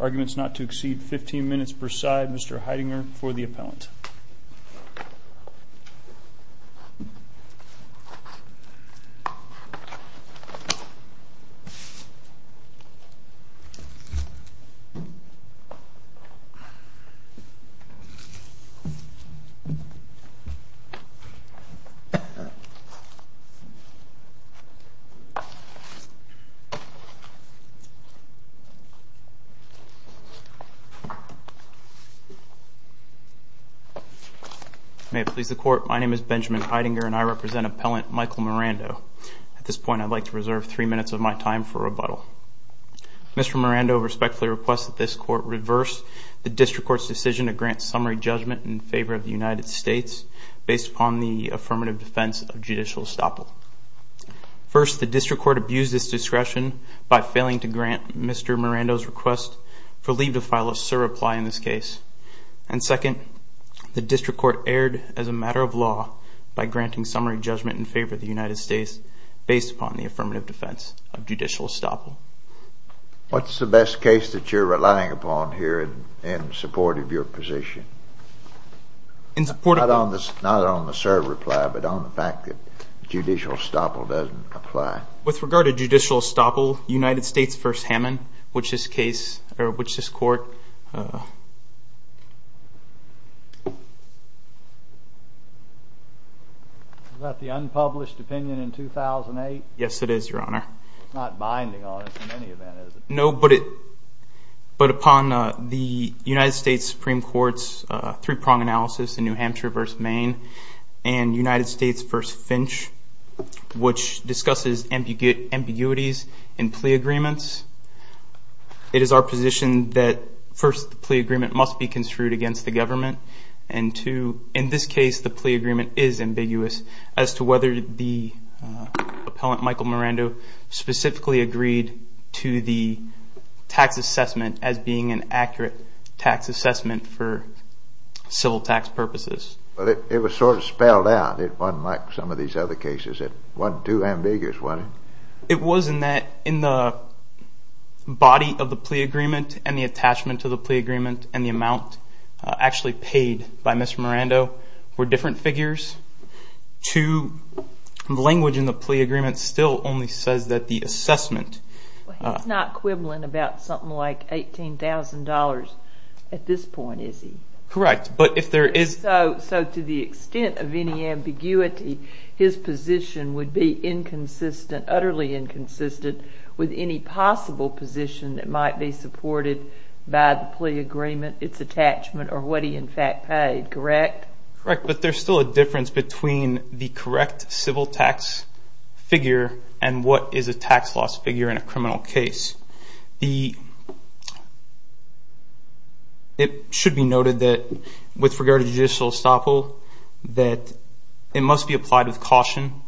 Arguments not to exceed 15 minutes per side. Mr Heidinger for the appellant. May it please the court, my name is Benjamin Heidinger and I represent appellant Michael Mirando. At this point I'd like to reserve three minutes of my time for rebuttal. Mr Mirando respectfully requests that this court reverse the district court's decision to grant summary judgment in favor of the United States based upon the affirmative defense of judicial estoppel. First, the district court abused its discretion by failing to grant Mr Mirando's request for leave to file a surreply in this case. And second, the district court erred as a matter of law by granting summary judgment in favor of the United States based upon the affirmative defense of judicial estoppel. What's the best case that you're relying upon here in support of your position? Not on the surreply, but on the fact that judicial estoppel doesn't apply. With regard to judicial estoppel, United States v. Hammond, which this court... Is that the unpublished opinion in 2008? Yes, it is, your honor. It's not on the United States Supreme Court's three-prong analysis in New Hampshire v. Maine and United States v. Finch, which discusses ambiguities in plea agreements. It is our position that first the plea agreement must be construed against the government, and two, in this case the plea agreement is ambiguous as to whether the appellant Michael Mirando specifically agreed to the tax assessment as being an accurate tax assessment for civil tax purposes. It was sort of spelled out. It wasn't like some of these other cases. It wasn't too ambiguous, was it? It was in that in the body of the plea agreement and the attachment to the plea agreement and the amount actually paid by Mr. Mirando were different figures. Two, the He's not quibbling about something like $18,000 at this point, is he? Correct, but if there is... So to the extent of any ambiguity, his position would be inconsistent, utterly inconsistent with any possible position that might be supported by the plea agreement, its attachment or what he in fact paid, correct? Correct, but there's still a difference between the correct civil tax figure and what is a tax loss figure in a criminal case. It should be noted that with regard to judicial estoppel that it must be applied with caution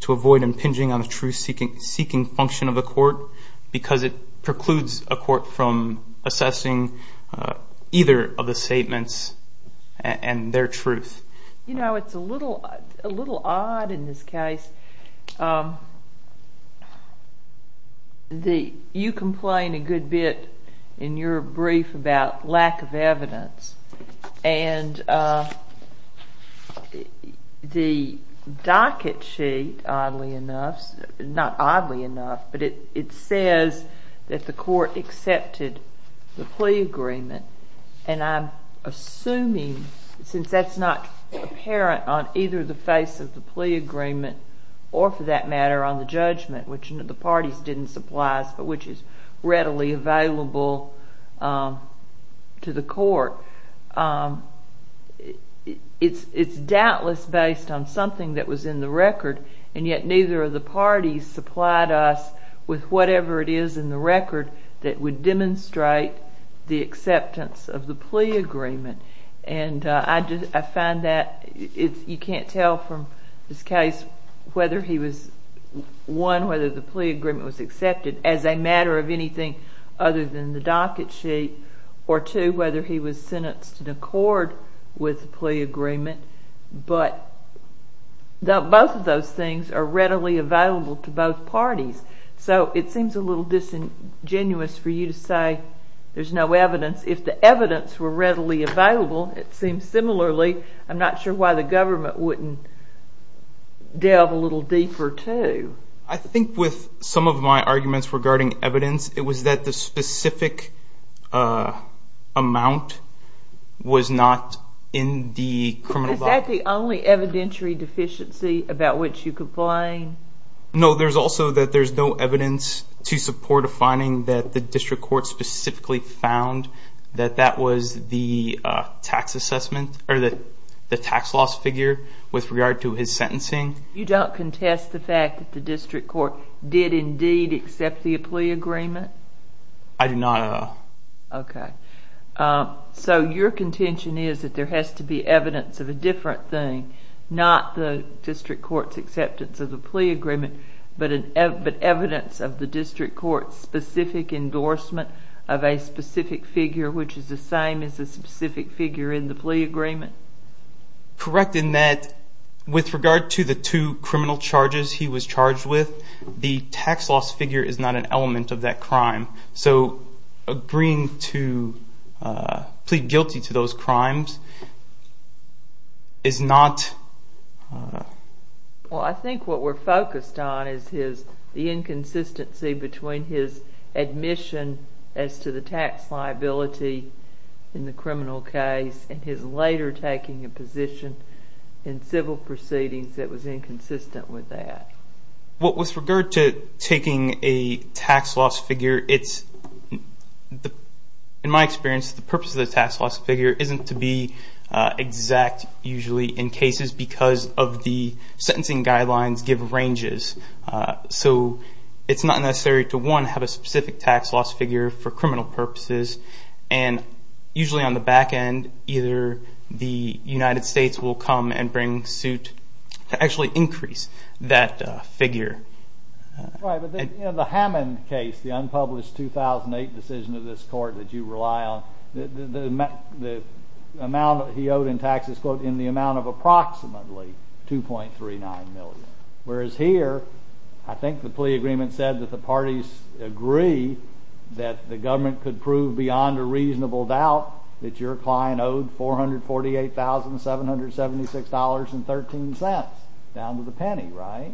to avoid impinging on the truth-seeking function of the court because it precludes a court from assessing either of the statements and their truth. You know, it's a little odd in this case. You complain a good bit in your brief about lack of evidence and the docket sheet, oddly and I'm assuming since that's not apparent on either the face of the plea agreement or for that matter on the judgment, which the parties didn't supply us but which is readily available to the court, it's doubtless based on something that was in the record and yet neither of the parties supplied us with whatever it is in the record that would demonstrate the acceptance of the plea agreement and I find that you can't tell from this case whether he was, one, whether the plea agreement was accepted as a matter of anything other than the docket sheet or two, whether he was sentenced in accord with the plea agreement but both of those things are readily available to both parties. So it seems a little disingenuous for you to say there's no evidence. If the evidence were readily available, it seems similarly, I'm not sure why the government wouldn't delve a little deeper too. I think with some of my arguments regarding evidence, it was that the specific amount was not in the criminal body. Is that the only evidentiary deficiency about which you complain? No, there's also that there's no evidence to support a finding that the district court specifically found that that was the tax assessment or the tax loss figure with regard to his sentencing. You don't contest the fact that the district court did indeed accept the plea agreement? I do not. Okay. So your contention is that there has to be evidence of a different thing, not the plea agreement, but evidence of the district court's specific endorsement of a specific figure which is the same as the specific figure in the plea agreement? Correct in that with regard to the two criminal charges he was charged with, the tax loss figure is not an element of that crime. So agreeing to plead guilty to those crimes is not... Well, I think what we're focused on is the inconsistency between his admission as to the tax liability in the criminal case and his later taking a position in civil proceedings that was inconsistent with that. What with regard to taking a tax loss figure, in my experience, the purpose of the tax loss figure isn't to be exact usually in cases because of the sentencing guidelines give ranges. So it's not necessary to, one, have a specific tax loss figure for criminal purposes, and usually on the back end, either the United States will come and bring suit to actually increase that figure. Right, but in the Hammond case, the unpublished 2008 decision of this court that you rely on, the amount he owed in taxes in the amount of approximately 2.39 million. Whereas here, I think the plea agreement said that the parties agree that the government could prove beyond a reasonable doubt that your client owed $448,776.13, down to the penny, right?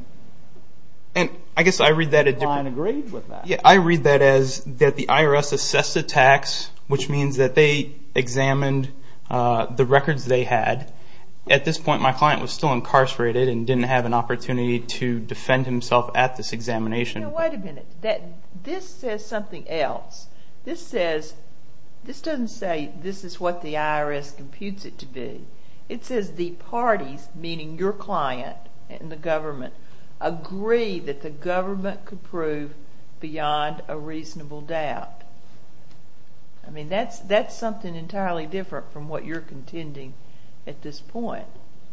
I guess I read that as... Your client agreed with that. Which means that they examined the records they had. At this point, my client was still incarcerated and didn't have an opportunity to defend himself at this examination. Wait a minute. This says something else. This doesn't say this is what the IRS computes it to be. It says the parties, meaning your client and the government, agree that the IRS... I mean, that's something entirely different from what you're contending at this point.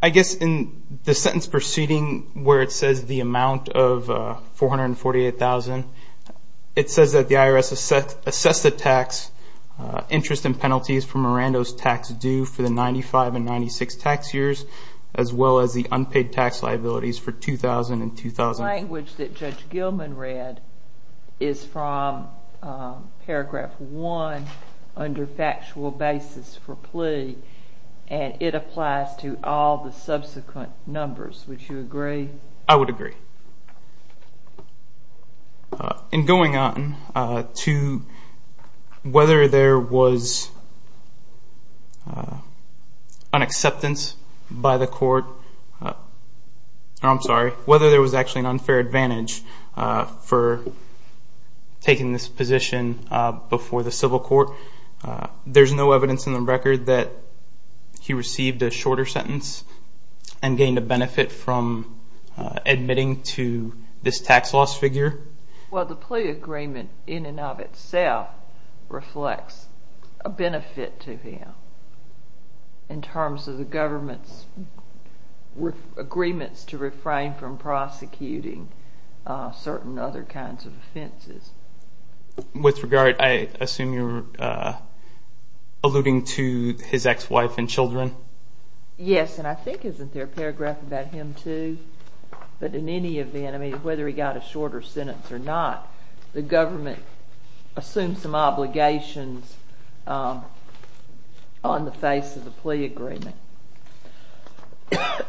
I guess in the sentence proceeding where it says the amount of $448,000, it says that the IRS assessed the tax interest and penalties for Miranda's tax due for the 95 and 96 tax years, as well as the unpaid tax liabilities for 2000 and 2000. The language that Judge Gilman read is from paragraph one under factual basis for plea and it applies to all the subsequent numbers. Would you agree? I would agree. In going on to whether there was an acceptance by the court, or I'm sorry, whether there was actually an unfair advantage for taking this position before the civil court, there's no evidence in the record that he received a shorter sentence and gained a benefit from admitting to this tax loss figure. Well, the plea agreement in and of itself reflects a benefit to him in terms of the government prosecuting certain other kinds of offenses. With regard, I assume you're alluding to his ex-wife and children? Yes, and I think isn't there a paragraph about him too? But in any event, I mean, whether he got a shorter sentence or not, the government assumed some obligations on the face of the plea agreement.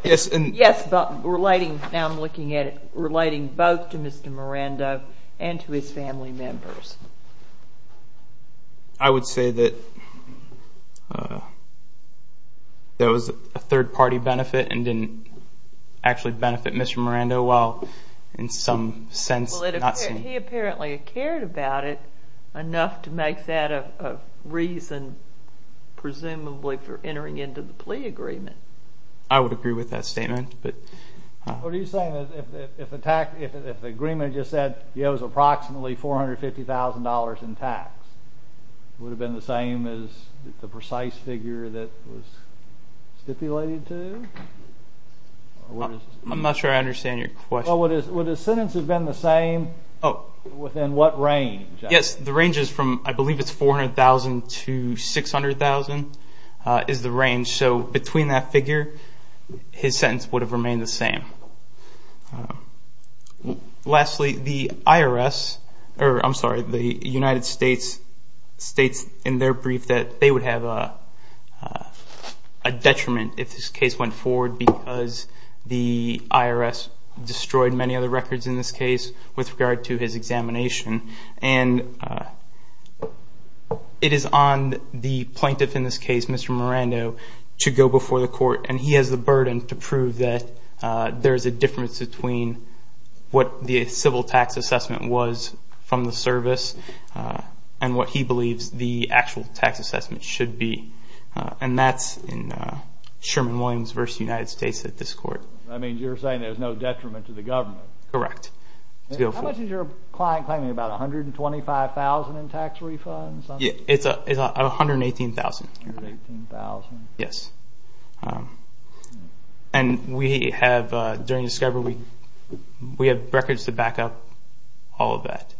Yes, but relating, now I'm looking at it, relating both to Mr. Miranda and to his family members. I would say that there was a third party benefit and didn't actually benefit Mr. Miranda well in some sense. Well, he apparently cared about it enough to make that a reason, presumably, for entering into the plea agreement. I would agree with that statement. What are you saying? If the agreement just said he owes approximately $450,000 in tax, would it have been the same as the precise figure that was stipulated to? I'm not sure I understand your question. Well, would the sentence have been the same within what range? Yes, the range is from, I believe it's $400,000 to $600,000 is the range. So between that figure, his sentence would have remained the same. Lastly, the IRS, or I'm sorry, the United States states in their brief that they would have a detriment if this case went forward because the IRS destroyed many other records in this case with regard to his examination. It is on the plaintiff in this case, Mr. Miranda, to go before the court, and he has the burden to prove that there is a difference between what the civil tax assessment was from the service and what he believes the actual tax assessment should be, and that's in Sherman Williams v. United States at this court. I mean, you're saying there's no detriment to the government. Correct. How much is your client claiming, about $125,000 in tax refunds? It's $118,000. $118,000. Yes. And we have, during discovery, we have records to back up all of that.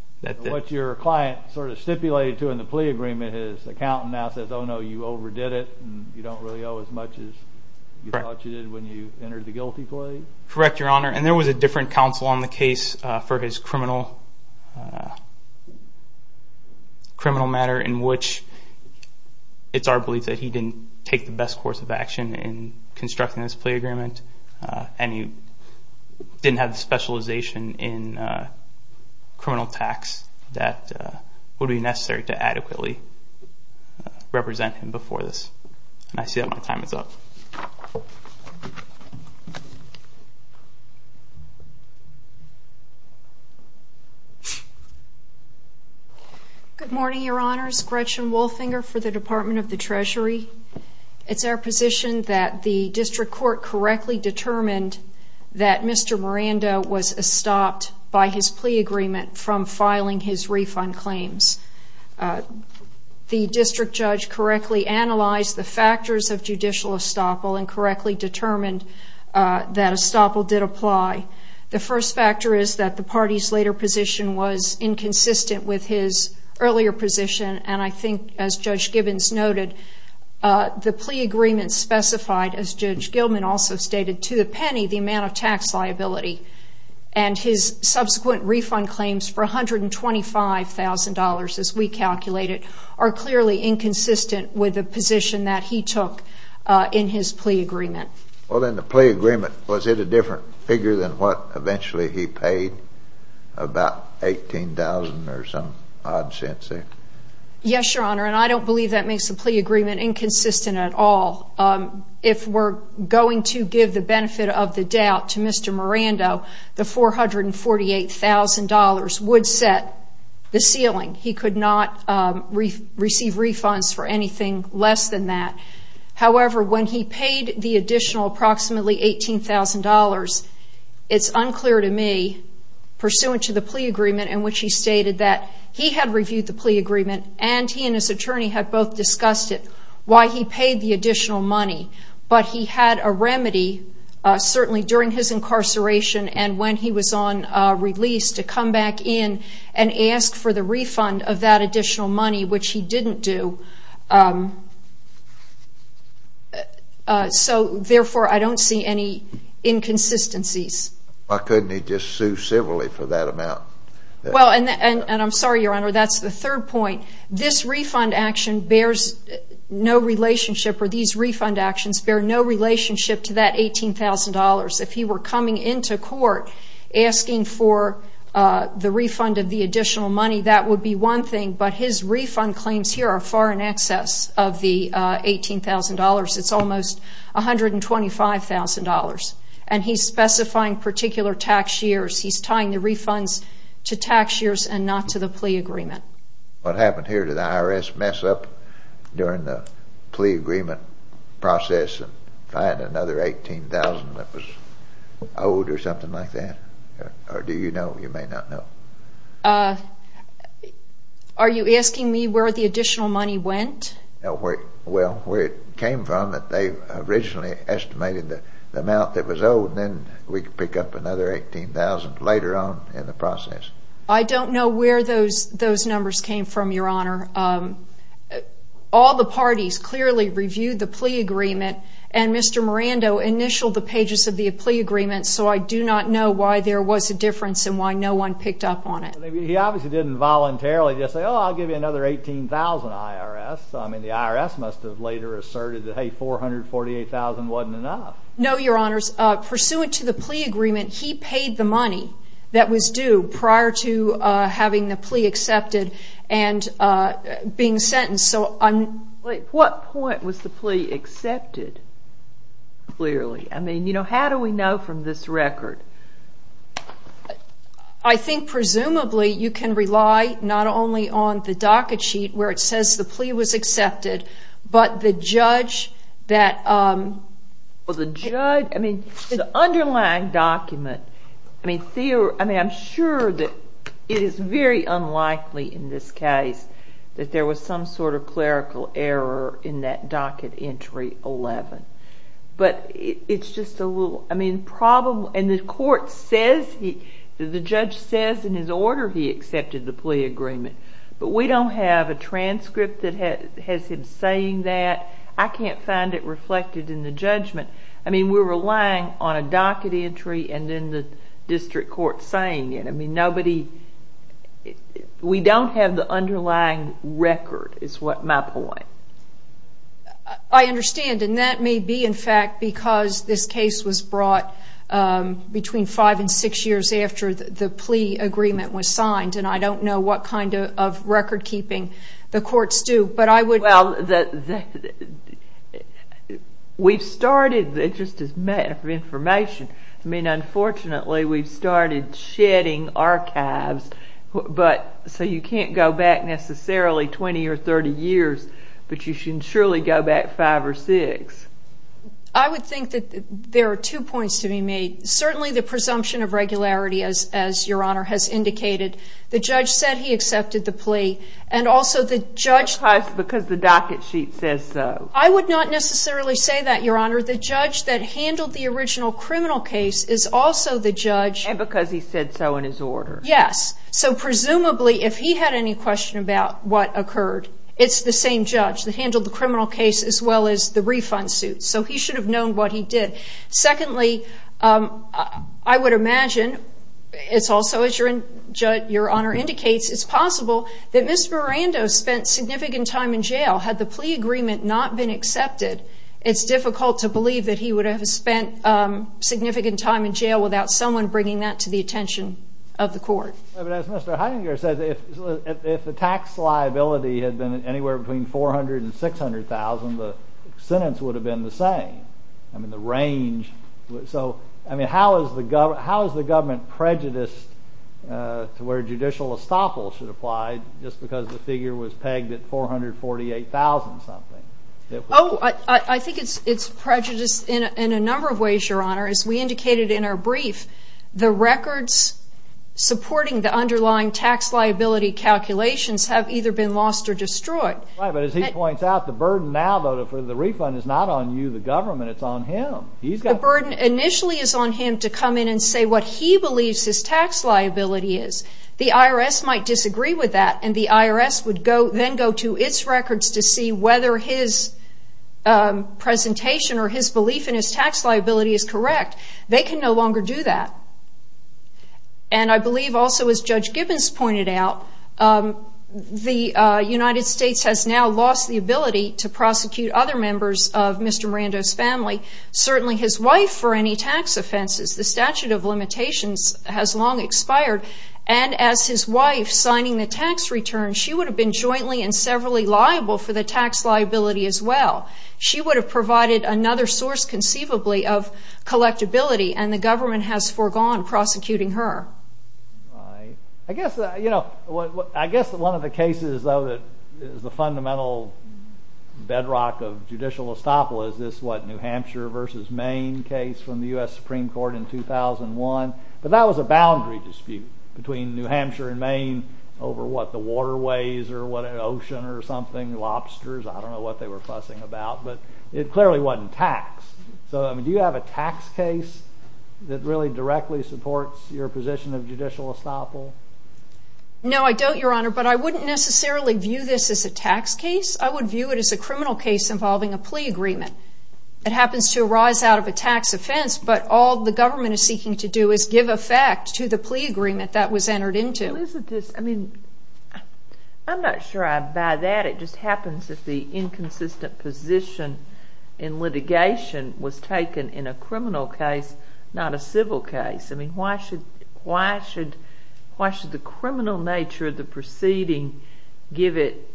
What your client sort of stipulated to in the plea agreement is the accountant now says, oh no, you overdid it, and you don't really owe as much as you thought you did when you entered the guilty plea? Correct, Your Honor. And there was a different counsel on the case for his criminal matter in which it's our belief that he didn't take the best course of action in constructing this plea agreement, and he didn't have the specialization in criminal tax that would be necessary to adequately represent him before this. And I see that my time is up. Good morning, Your Honors. Gretchen Wolfinger for the Department of the Treasury. It's our position that the district court correctly determined that Mr. Miranda was stopped by his plea agreement from filing his refund claims. The district judge correctly analyzed the factors of judicial estoppel and correctly determined that estoppel did apply. The first factor is that the party's later position was inconsistent with his earlier position, and I think, as Judge Gibbons noted, the plea agreement specified, as Judge Gilman also stated, to a penny the amount of tax liability. And his subsequent refund claims for $125,000, as we calculated, are clearly inconsistent with the position that he took in his plea agreement. Well, then, the plea agreement, was it a different figure than what eventually he paid, about $18,000 or some odd cents there? Yes, Your Honor, and I don't believe that makes the plea agreement inconsistent at all. If we're going to give the benefit of the doubt to Mr. Miranda, the $448,000 would set the ceiling. He could not receive refunds for anything less than that. However, when he paid the additional approximately $18,000, it's unclear to me, pursuant to the plea agreement in which he stated that he had reviewed the plea agreement and he and his attorney had both discussed it, why he paid the additional money. But he had a remedy, certainly during his incarceration and when he was on release, to come back in and ask for the refund of that additional money, which he didn't do. So, therefore, I don't see any inconsistencies. Why couldn't he just sue civilly for that amount? Well, and I'm sorry, Your Honor, that's the third point. This refund action bears no relationship, or these refund actions bear no relationship to that $18,000. If he were coming into court asking for the refund of the additional money, that would be one thing, but his refund claims here are far in excess of the $18,000. It's almost $125,000. And he's specifying particular tax years. He's tying the refunds to tax years and not to the plea agreement. What happened here? Did the IRS mess up during the plea agreement process and find another $18,000 that was owed or something like that? Or do you know? You may not know. Are you asking me where the additional money went? Well, where it came from, that they originally estimated the amount that was owed and then we could pick up another $18,000 later on in the process. I don't know where those numbers came from, Your Honor. All the parties clearly reviewed the plea agreement, and Mr. Miranda initialed the pages of the plea agreement, so I do not know why there was a difference and why no one picked up on it. He obviously didn't voluntarily just say, oh, I'll give you another $18,000, IRS. I mean, the IRS must have later asserted that, hey, $448,000 wasn't enough. No, Your Honors. Pursuant to the plea agreement, he paid the money that was due prior to having the plea accepted and being sentenced. What point was the plea accepted, clearly? I mean, how do we know from this record? I think presumably you can rely not only on the docket sheet where it says the plea was accepted, but the judge that... Well, the judge... I mean, the underlying document, I mean, I'm sure that it is very unlikely in this case that there was some sort of clerical error in that docket entry 11, but it's just a little... I mean, the court says, the judge says in his order he accepted the plea agreement, but we don't have a transcript that has him saying that. I can't find it reflected in the judgment. I mean, we're relying on a docket entry and then the district court saying it. I mean, nobody... We don't have the underlying record is my point. I understand, and that may be, in fact, because this case was brought between five and six years after the plea agreement was signed, and I don't know what kind of record keeping the courts do, but I would... Well, we've started, just as a matter of information, I mean, unfortunately we've started shedding archives, but so you can't go back necessarily 20 or 30 years, but you should surely go back five or six. I would think that there are two points to be made. Certainly the presumption of regularity, as Your Honor has indicated, the judge said he accepted the plea, and also the judge... And that's because the docket sheet says so. I would not necessarily say that, Your Honor. The judge that handled the original criminal case is also the judge... Because he said so in his order. Yes. So presumably if he had any question about what occurred, it's the same judge that handled the criminal case as well as the refund suit. So he should have known what he did. Secondly, I would imagine, it's also as Your Honor indicates, it's possible that Ms. Miranda spent significant time in jail. Had the plea agreement not been accepted, it's difficult to believe that he would have spent significant time in jail without someone bringing that to the attention of the court. But as Mr. Heininger said, if the tax liability had been anywhere between $400,000 and $600,000, the sentence would have been the same. I mean, the range... So, I mean, how is the government prejudiced to where judicial estoppel should apply just because the figure was pegged at $448,000 something? Oh, I think it's prejudiced in a number of ways, Your Honor. As we indicated in our brief, the records supporting the underlying tax liability calculations have either been lost or destroyed. Right, but as he points out, the burden now, though, for the refund is not on you, the government, it's on him. He's got... The burden initially is on him to come in and say what he believes his tax liability is. The IRS might disagree with that, and the IRS would then go to its records to see whether his presentation or his belief in his tax liability is correct. They can no longer do that. And I believe also, as Judge Gibbons pointed out, the United States has now lost the ability to prosecute other members of Mr. Miranda's family, certainly his wife, for any tax offenses. The statute of limitations has long expired, and as his wife signing the tax return, she would have been jointly and severally liable for the tax liability as well. She would have provided another source, conceivably, of collectability, and the government has foregone prosecuting her. I guess, you know, I guess one of the cases, though, that is the fundamental bedrock of judicial estoppel is this, what, New Hampshire v. Maine case from the U.S. Supreme Court in 2001, but that was a boundary dispute between New Hampshire and Maine over, what, the waterways or what, an ocean or something, lobsters, I don't know what they were fussing about, but it clearly wasn't taxed. So, I mean, do you have a tax case that really directly supports your position of judicial estoppel? No, I don't, Your Honor, but I wouldn't necessarily view this as a tax case. I would view it as a criminal case involving a plea agreement. It happens to arise out of a tax offense, but all the government is seeking to do is give effect to the plea agreement that was entered into. Well, isn't this, I mean, I'm not sure I buy that. It just happens that the inconsistent position in litigation was taken in a criminal case, not a civil case. I mean, why should the criminal nature of the proceeding give it,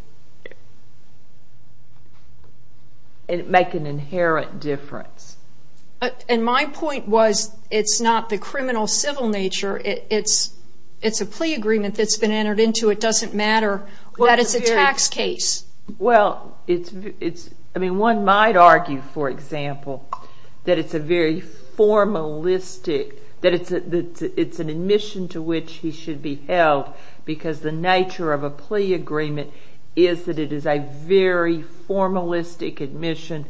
make an inherent difference? And my point was, it's not the criminal civil nature. It's a plea agreement that's been entered into. It doesn't matter that it's a tax case. Well, it's, I mean, one might argue, for example, that it's a very formalistic, that it's an admission to which he should be held because the nature of a plea agreement is that it is a very formalistic admission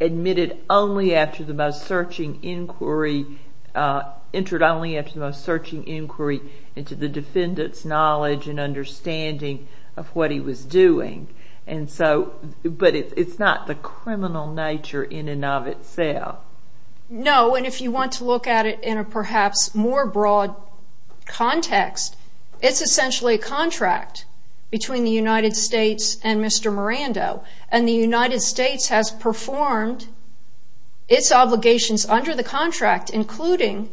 admitted only after the most searching inquiry, entered only after the most searching inquiry into the defendant's knowledge and understanding of what he was doing. And so, but it's not the criminal nature in and of itself. No, and if you want to look at it in a perhaps more broad context, it's essentially a contract between the United States and Mr. Miranda. And the United States has performed its obligations under the contract, including,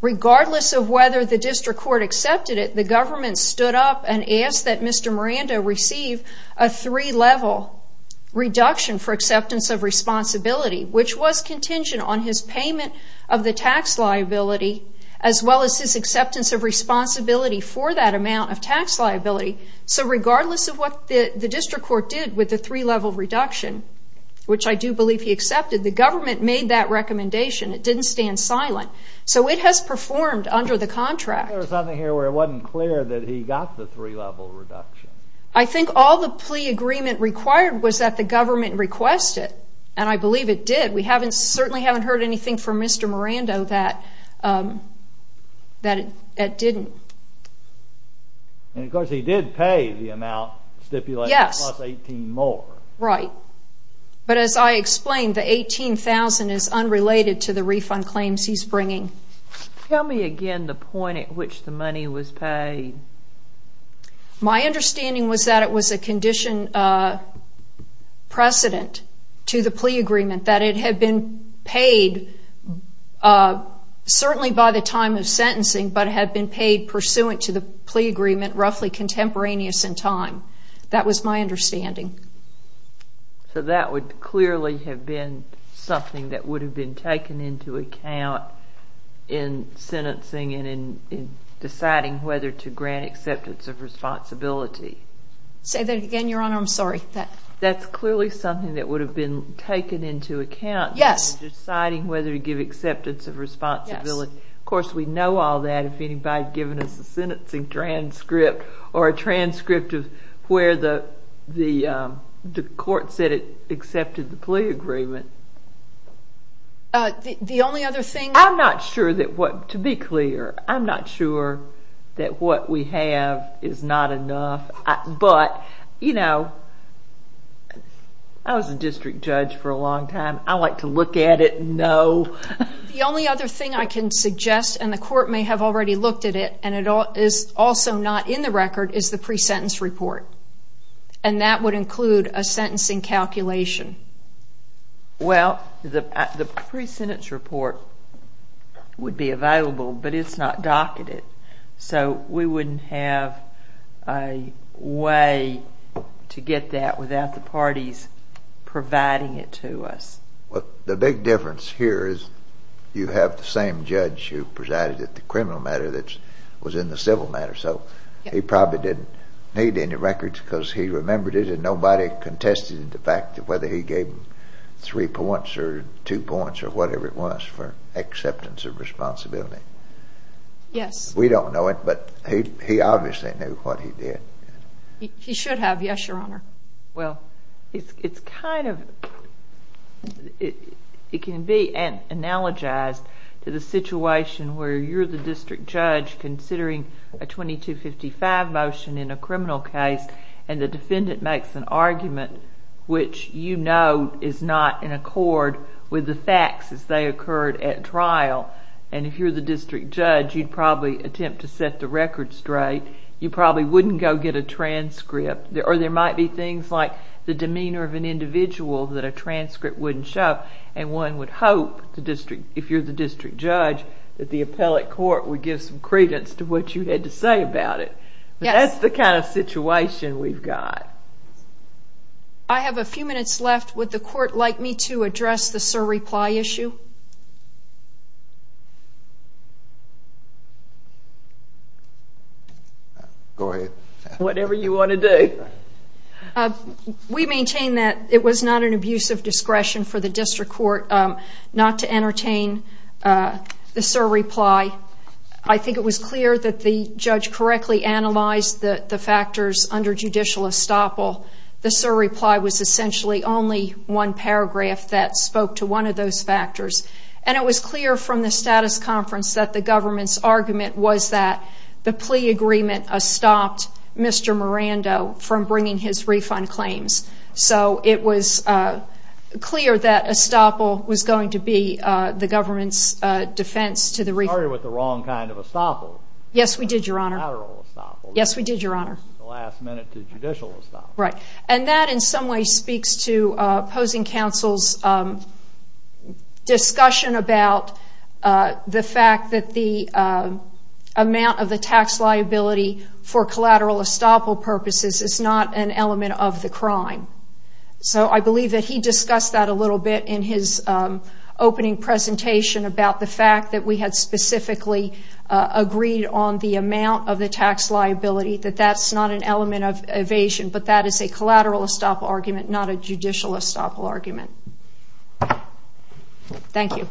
regardless of whether the district court accepted it, the government stood up and asked that Mr. Miranda receive a three-level reduction for acceptance of responsibility, which was contingent on his payment of the tax liability, as well as his acceptance of responsibility for that amount of tax liability. So regardless of what the district court did with the three-level reduction, which I do believe he accepted, the government made that recommendation. It didn't stand silent. So it has performed under the contract. There was something here where it wasn't clear that he got the three-level reduction. I think all the plea agreement required was that the government request it, and I believe it did. We certainly haven't heard anything from Mr. Miranda that it didn't. And of course, he did pay the amount stipulated, plus 18 more. Yes, right. But as I explained, the 18,000 is unrelated to the refund claims he's bringing. Tell me again the point at which the money was paid. My understanding was that it was a condition precedent to the plea agreement, that it had been paid certainly by the time of sentencing, but had been paid pursuant to the plea agreement roughly contemporaneous in time. That was my understanding. So that would clearly have been something that would have been taken into account in sentencing and in deciding whether to grant acceptance of responsibility. Say that again, Your Honor. That's clearly something that would have been taken into account in deciding whether to give acceptance of responsibility. Of course, we'd know all that if anybody had given us a sentencing transcript or a transcript of where the court said it accepted the plea agreement. The only other thing... I'm not sure that what, to be clear, I'm not sure that what we have is not enough. But, you know, I was a district judge for a long time. I like to look at it and know. The only other thing I can suggest, and the court may have already looked at it, and it is also not in the record, is the pre-sentence report. And that would include a sentencing calculation. Well, the pre-sentence report would be available, but it's not docketed. So we wouldn't have a way to get that without the parties providing it to us. The big difference here is you have the same judge who presided at the criminal matter that was in the civil matter. So he probably didn't need any records because he remembered it and nobody contested the fact that whether he gave him three points or two points or whatever it was for acceptance of responsibility. We don't know it, but he obviously knew what he did. He should have, yes, Your Honor. Well, it's kind of... it can be analogized to the situation where you're the district judge considering a 2255 motion in a criminal case and the defendant makes an argument which you know is not in accord with the facts as they occurred at trial. And if you're the district judge, you'd probably attempt to set the record straight. You probably wouldn't go get a transcript. Or there might be things like the demeanor of an individual that a transcript wouldn't show. And one would hope, if you're the district judge, that the appellate court would give some credence to what you had to say about it. But that's the kind of situation we've got. I have a few minutes left. Would the court like me to address the sir reply issue? Go ahead. Whatever you want to do. We maintain that it was not an abuse of discretion for the district court not to entertain the sir reply. I think it was clear that the judge correctly analyzed the factors under judicial estoppel. The sir reply was essentially only one paragraph that spoke to one of those factors. And it was clear from the status conference that the government's argument was that the plea agreement stopped Mr. Miranda from bringing his refund claims. So it was clear that estoppel was going to be the government's defense to the refund. You started with the wrong kind of estoppel. Yes, we did, your honor. Collateral estoppel. Yes, we did, your honor. The last minute to judicial estoppel. Right. And that in some way speaks to opposing counsel's discussion about the fact that the amount of the tax liability for collateral estoppel purposes is not an element of the liability that he discussed that a little bit in his opening presentation about the fact that we had specifically agreed on the amount of the tax liability, that that's not an element of evasion, but that is a collateral estoppel argument, not a judicial estoppel argument. Thank you.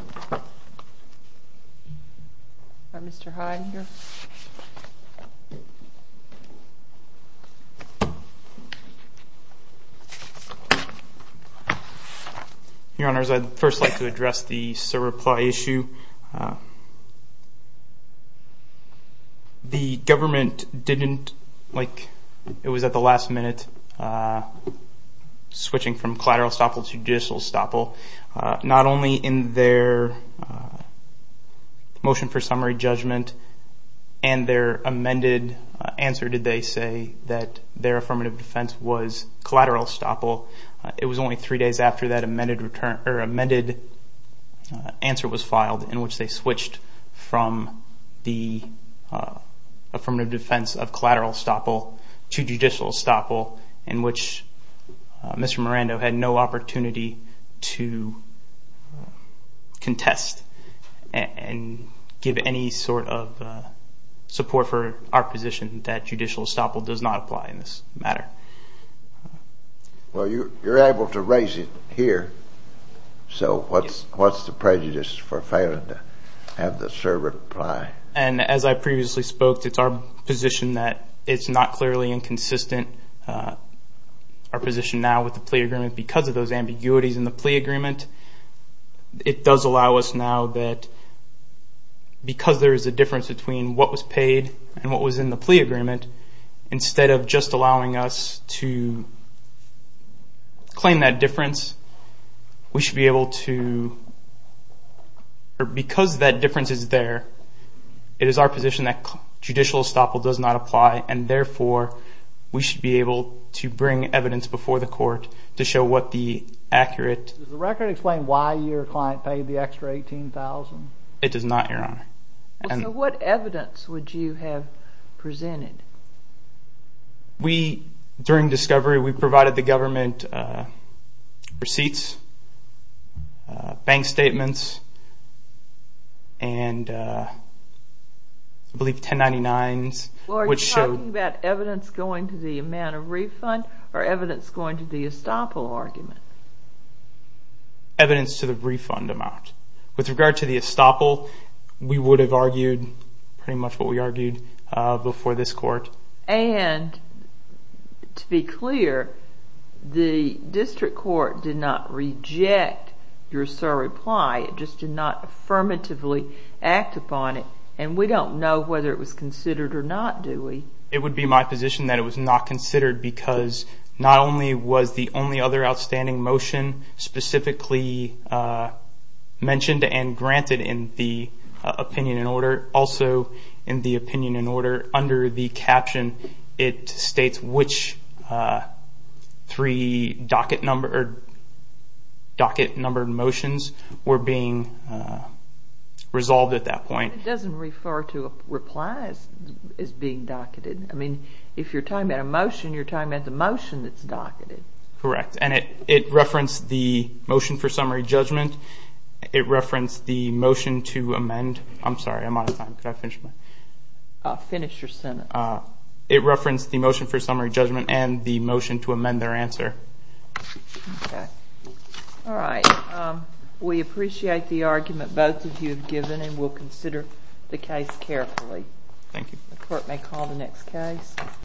Your honors, I'd first like to address the surreplie issue. The government didn't, like it was at the last minute, switching from collateral estoppel to judicial estoppel. Not only in their motion for summary judgment and their amended answer did they say that their affirmative defense was collateral estoppel, it was only three days after that amended answer was filed in which they switched from the affirmative defense of collateral estoppel to judicial estoppel in which Mr. Miranda had no opportunity to contest and give any sort of support for our position that judicial estoppel does not apply in this matter. Well you're able to raise it here, so what's the prejudice for failing to have the surreplie? And as I previously spoke, it's our position that it's not clearly inconsistent, our position now with the plea agreement because of those ambiguities in the plea agreement. It does allow us now that because there is a difference between what was paid and what was in the plea agreement, instead of just allowing us to claim that difference, we should be able to, because that difference is there, it is our position that judicial estoppel does not apply and therefore we should be able to bring evidence before the court to show what the difference is. It does not your honor. What evidence would you have presented? During discovery we provided the government receipts, bank statements, and I believe 1099s. Are you talking about evidence going to the amount of refund or evidence going to the estoppel argument? Evidence to the refund amount. With regard to the estoppel, we would have argued pretty much what we argued before this court. And to be clear, the district court did not reject your surreplie, it just did not affirmatively act upon it and we don't know whether it was considered or not, do we? It would be my position that it was not considered because not only was the only other outstanding motion specifically mentioned and granted in the opinion in order, also in the opinion in order under the caption it states which three docket numbered motions were being resolved at that point. It doesn't refer to a reply as being docketed. I mean, if you're talking about a motion, you're talking about the motion that's docketed. Correct. And it referenced the motion for summary judgment, it referenced the motion to amend. I'm sorry, I'm out of time. Could I finish my? Finish your sentence. It referenced the motion for summary judgment and the motion to amend their answer. Okay. All right. We appreciate the argument both of you have given and we'll consider the case carefully. Thank you. The court may call the next case.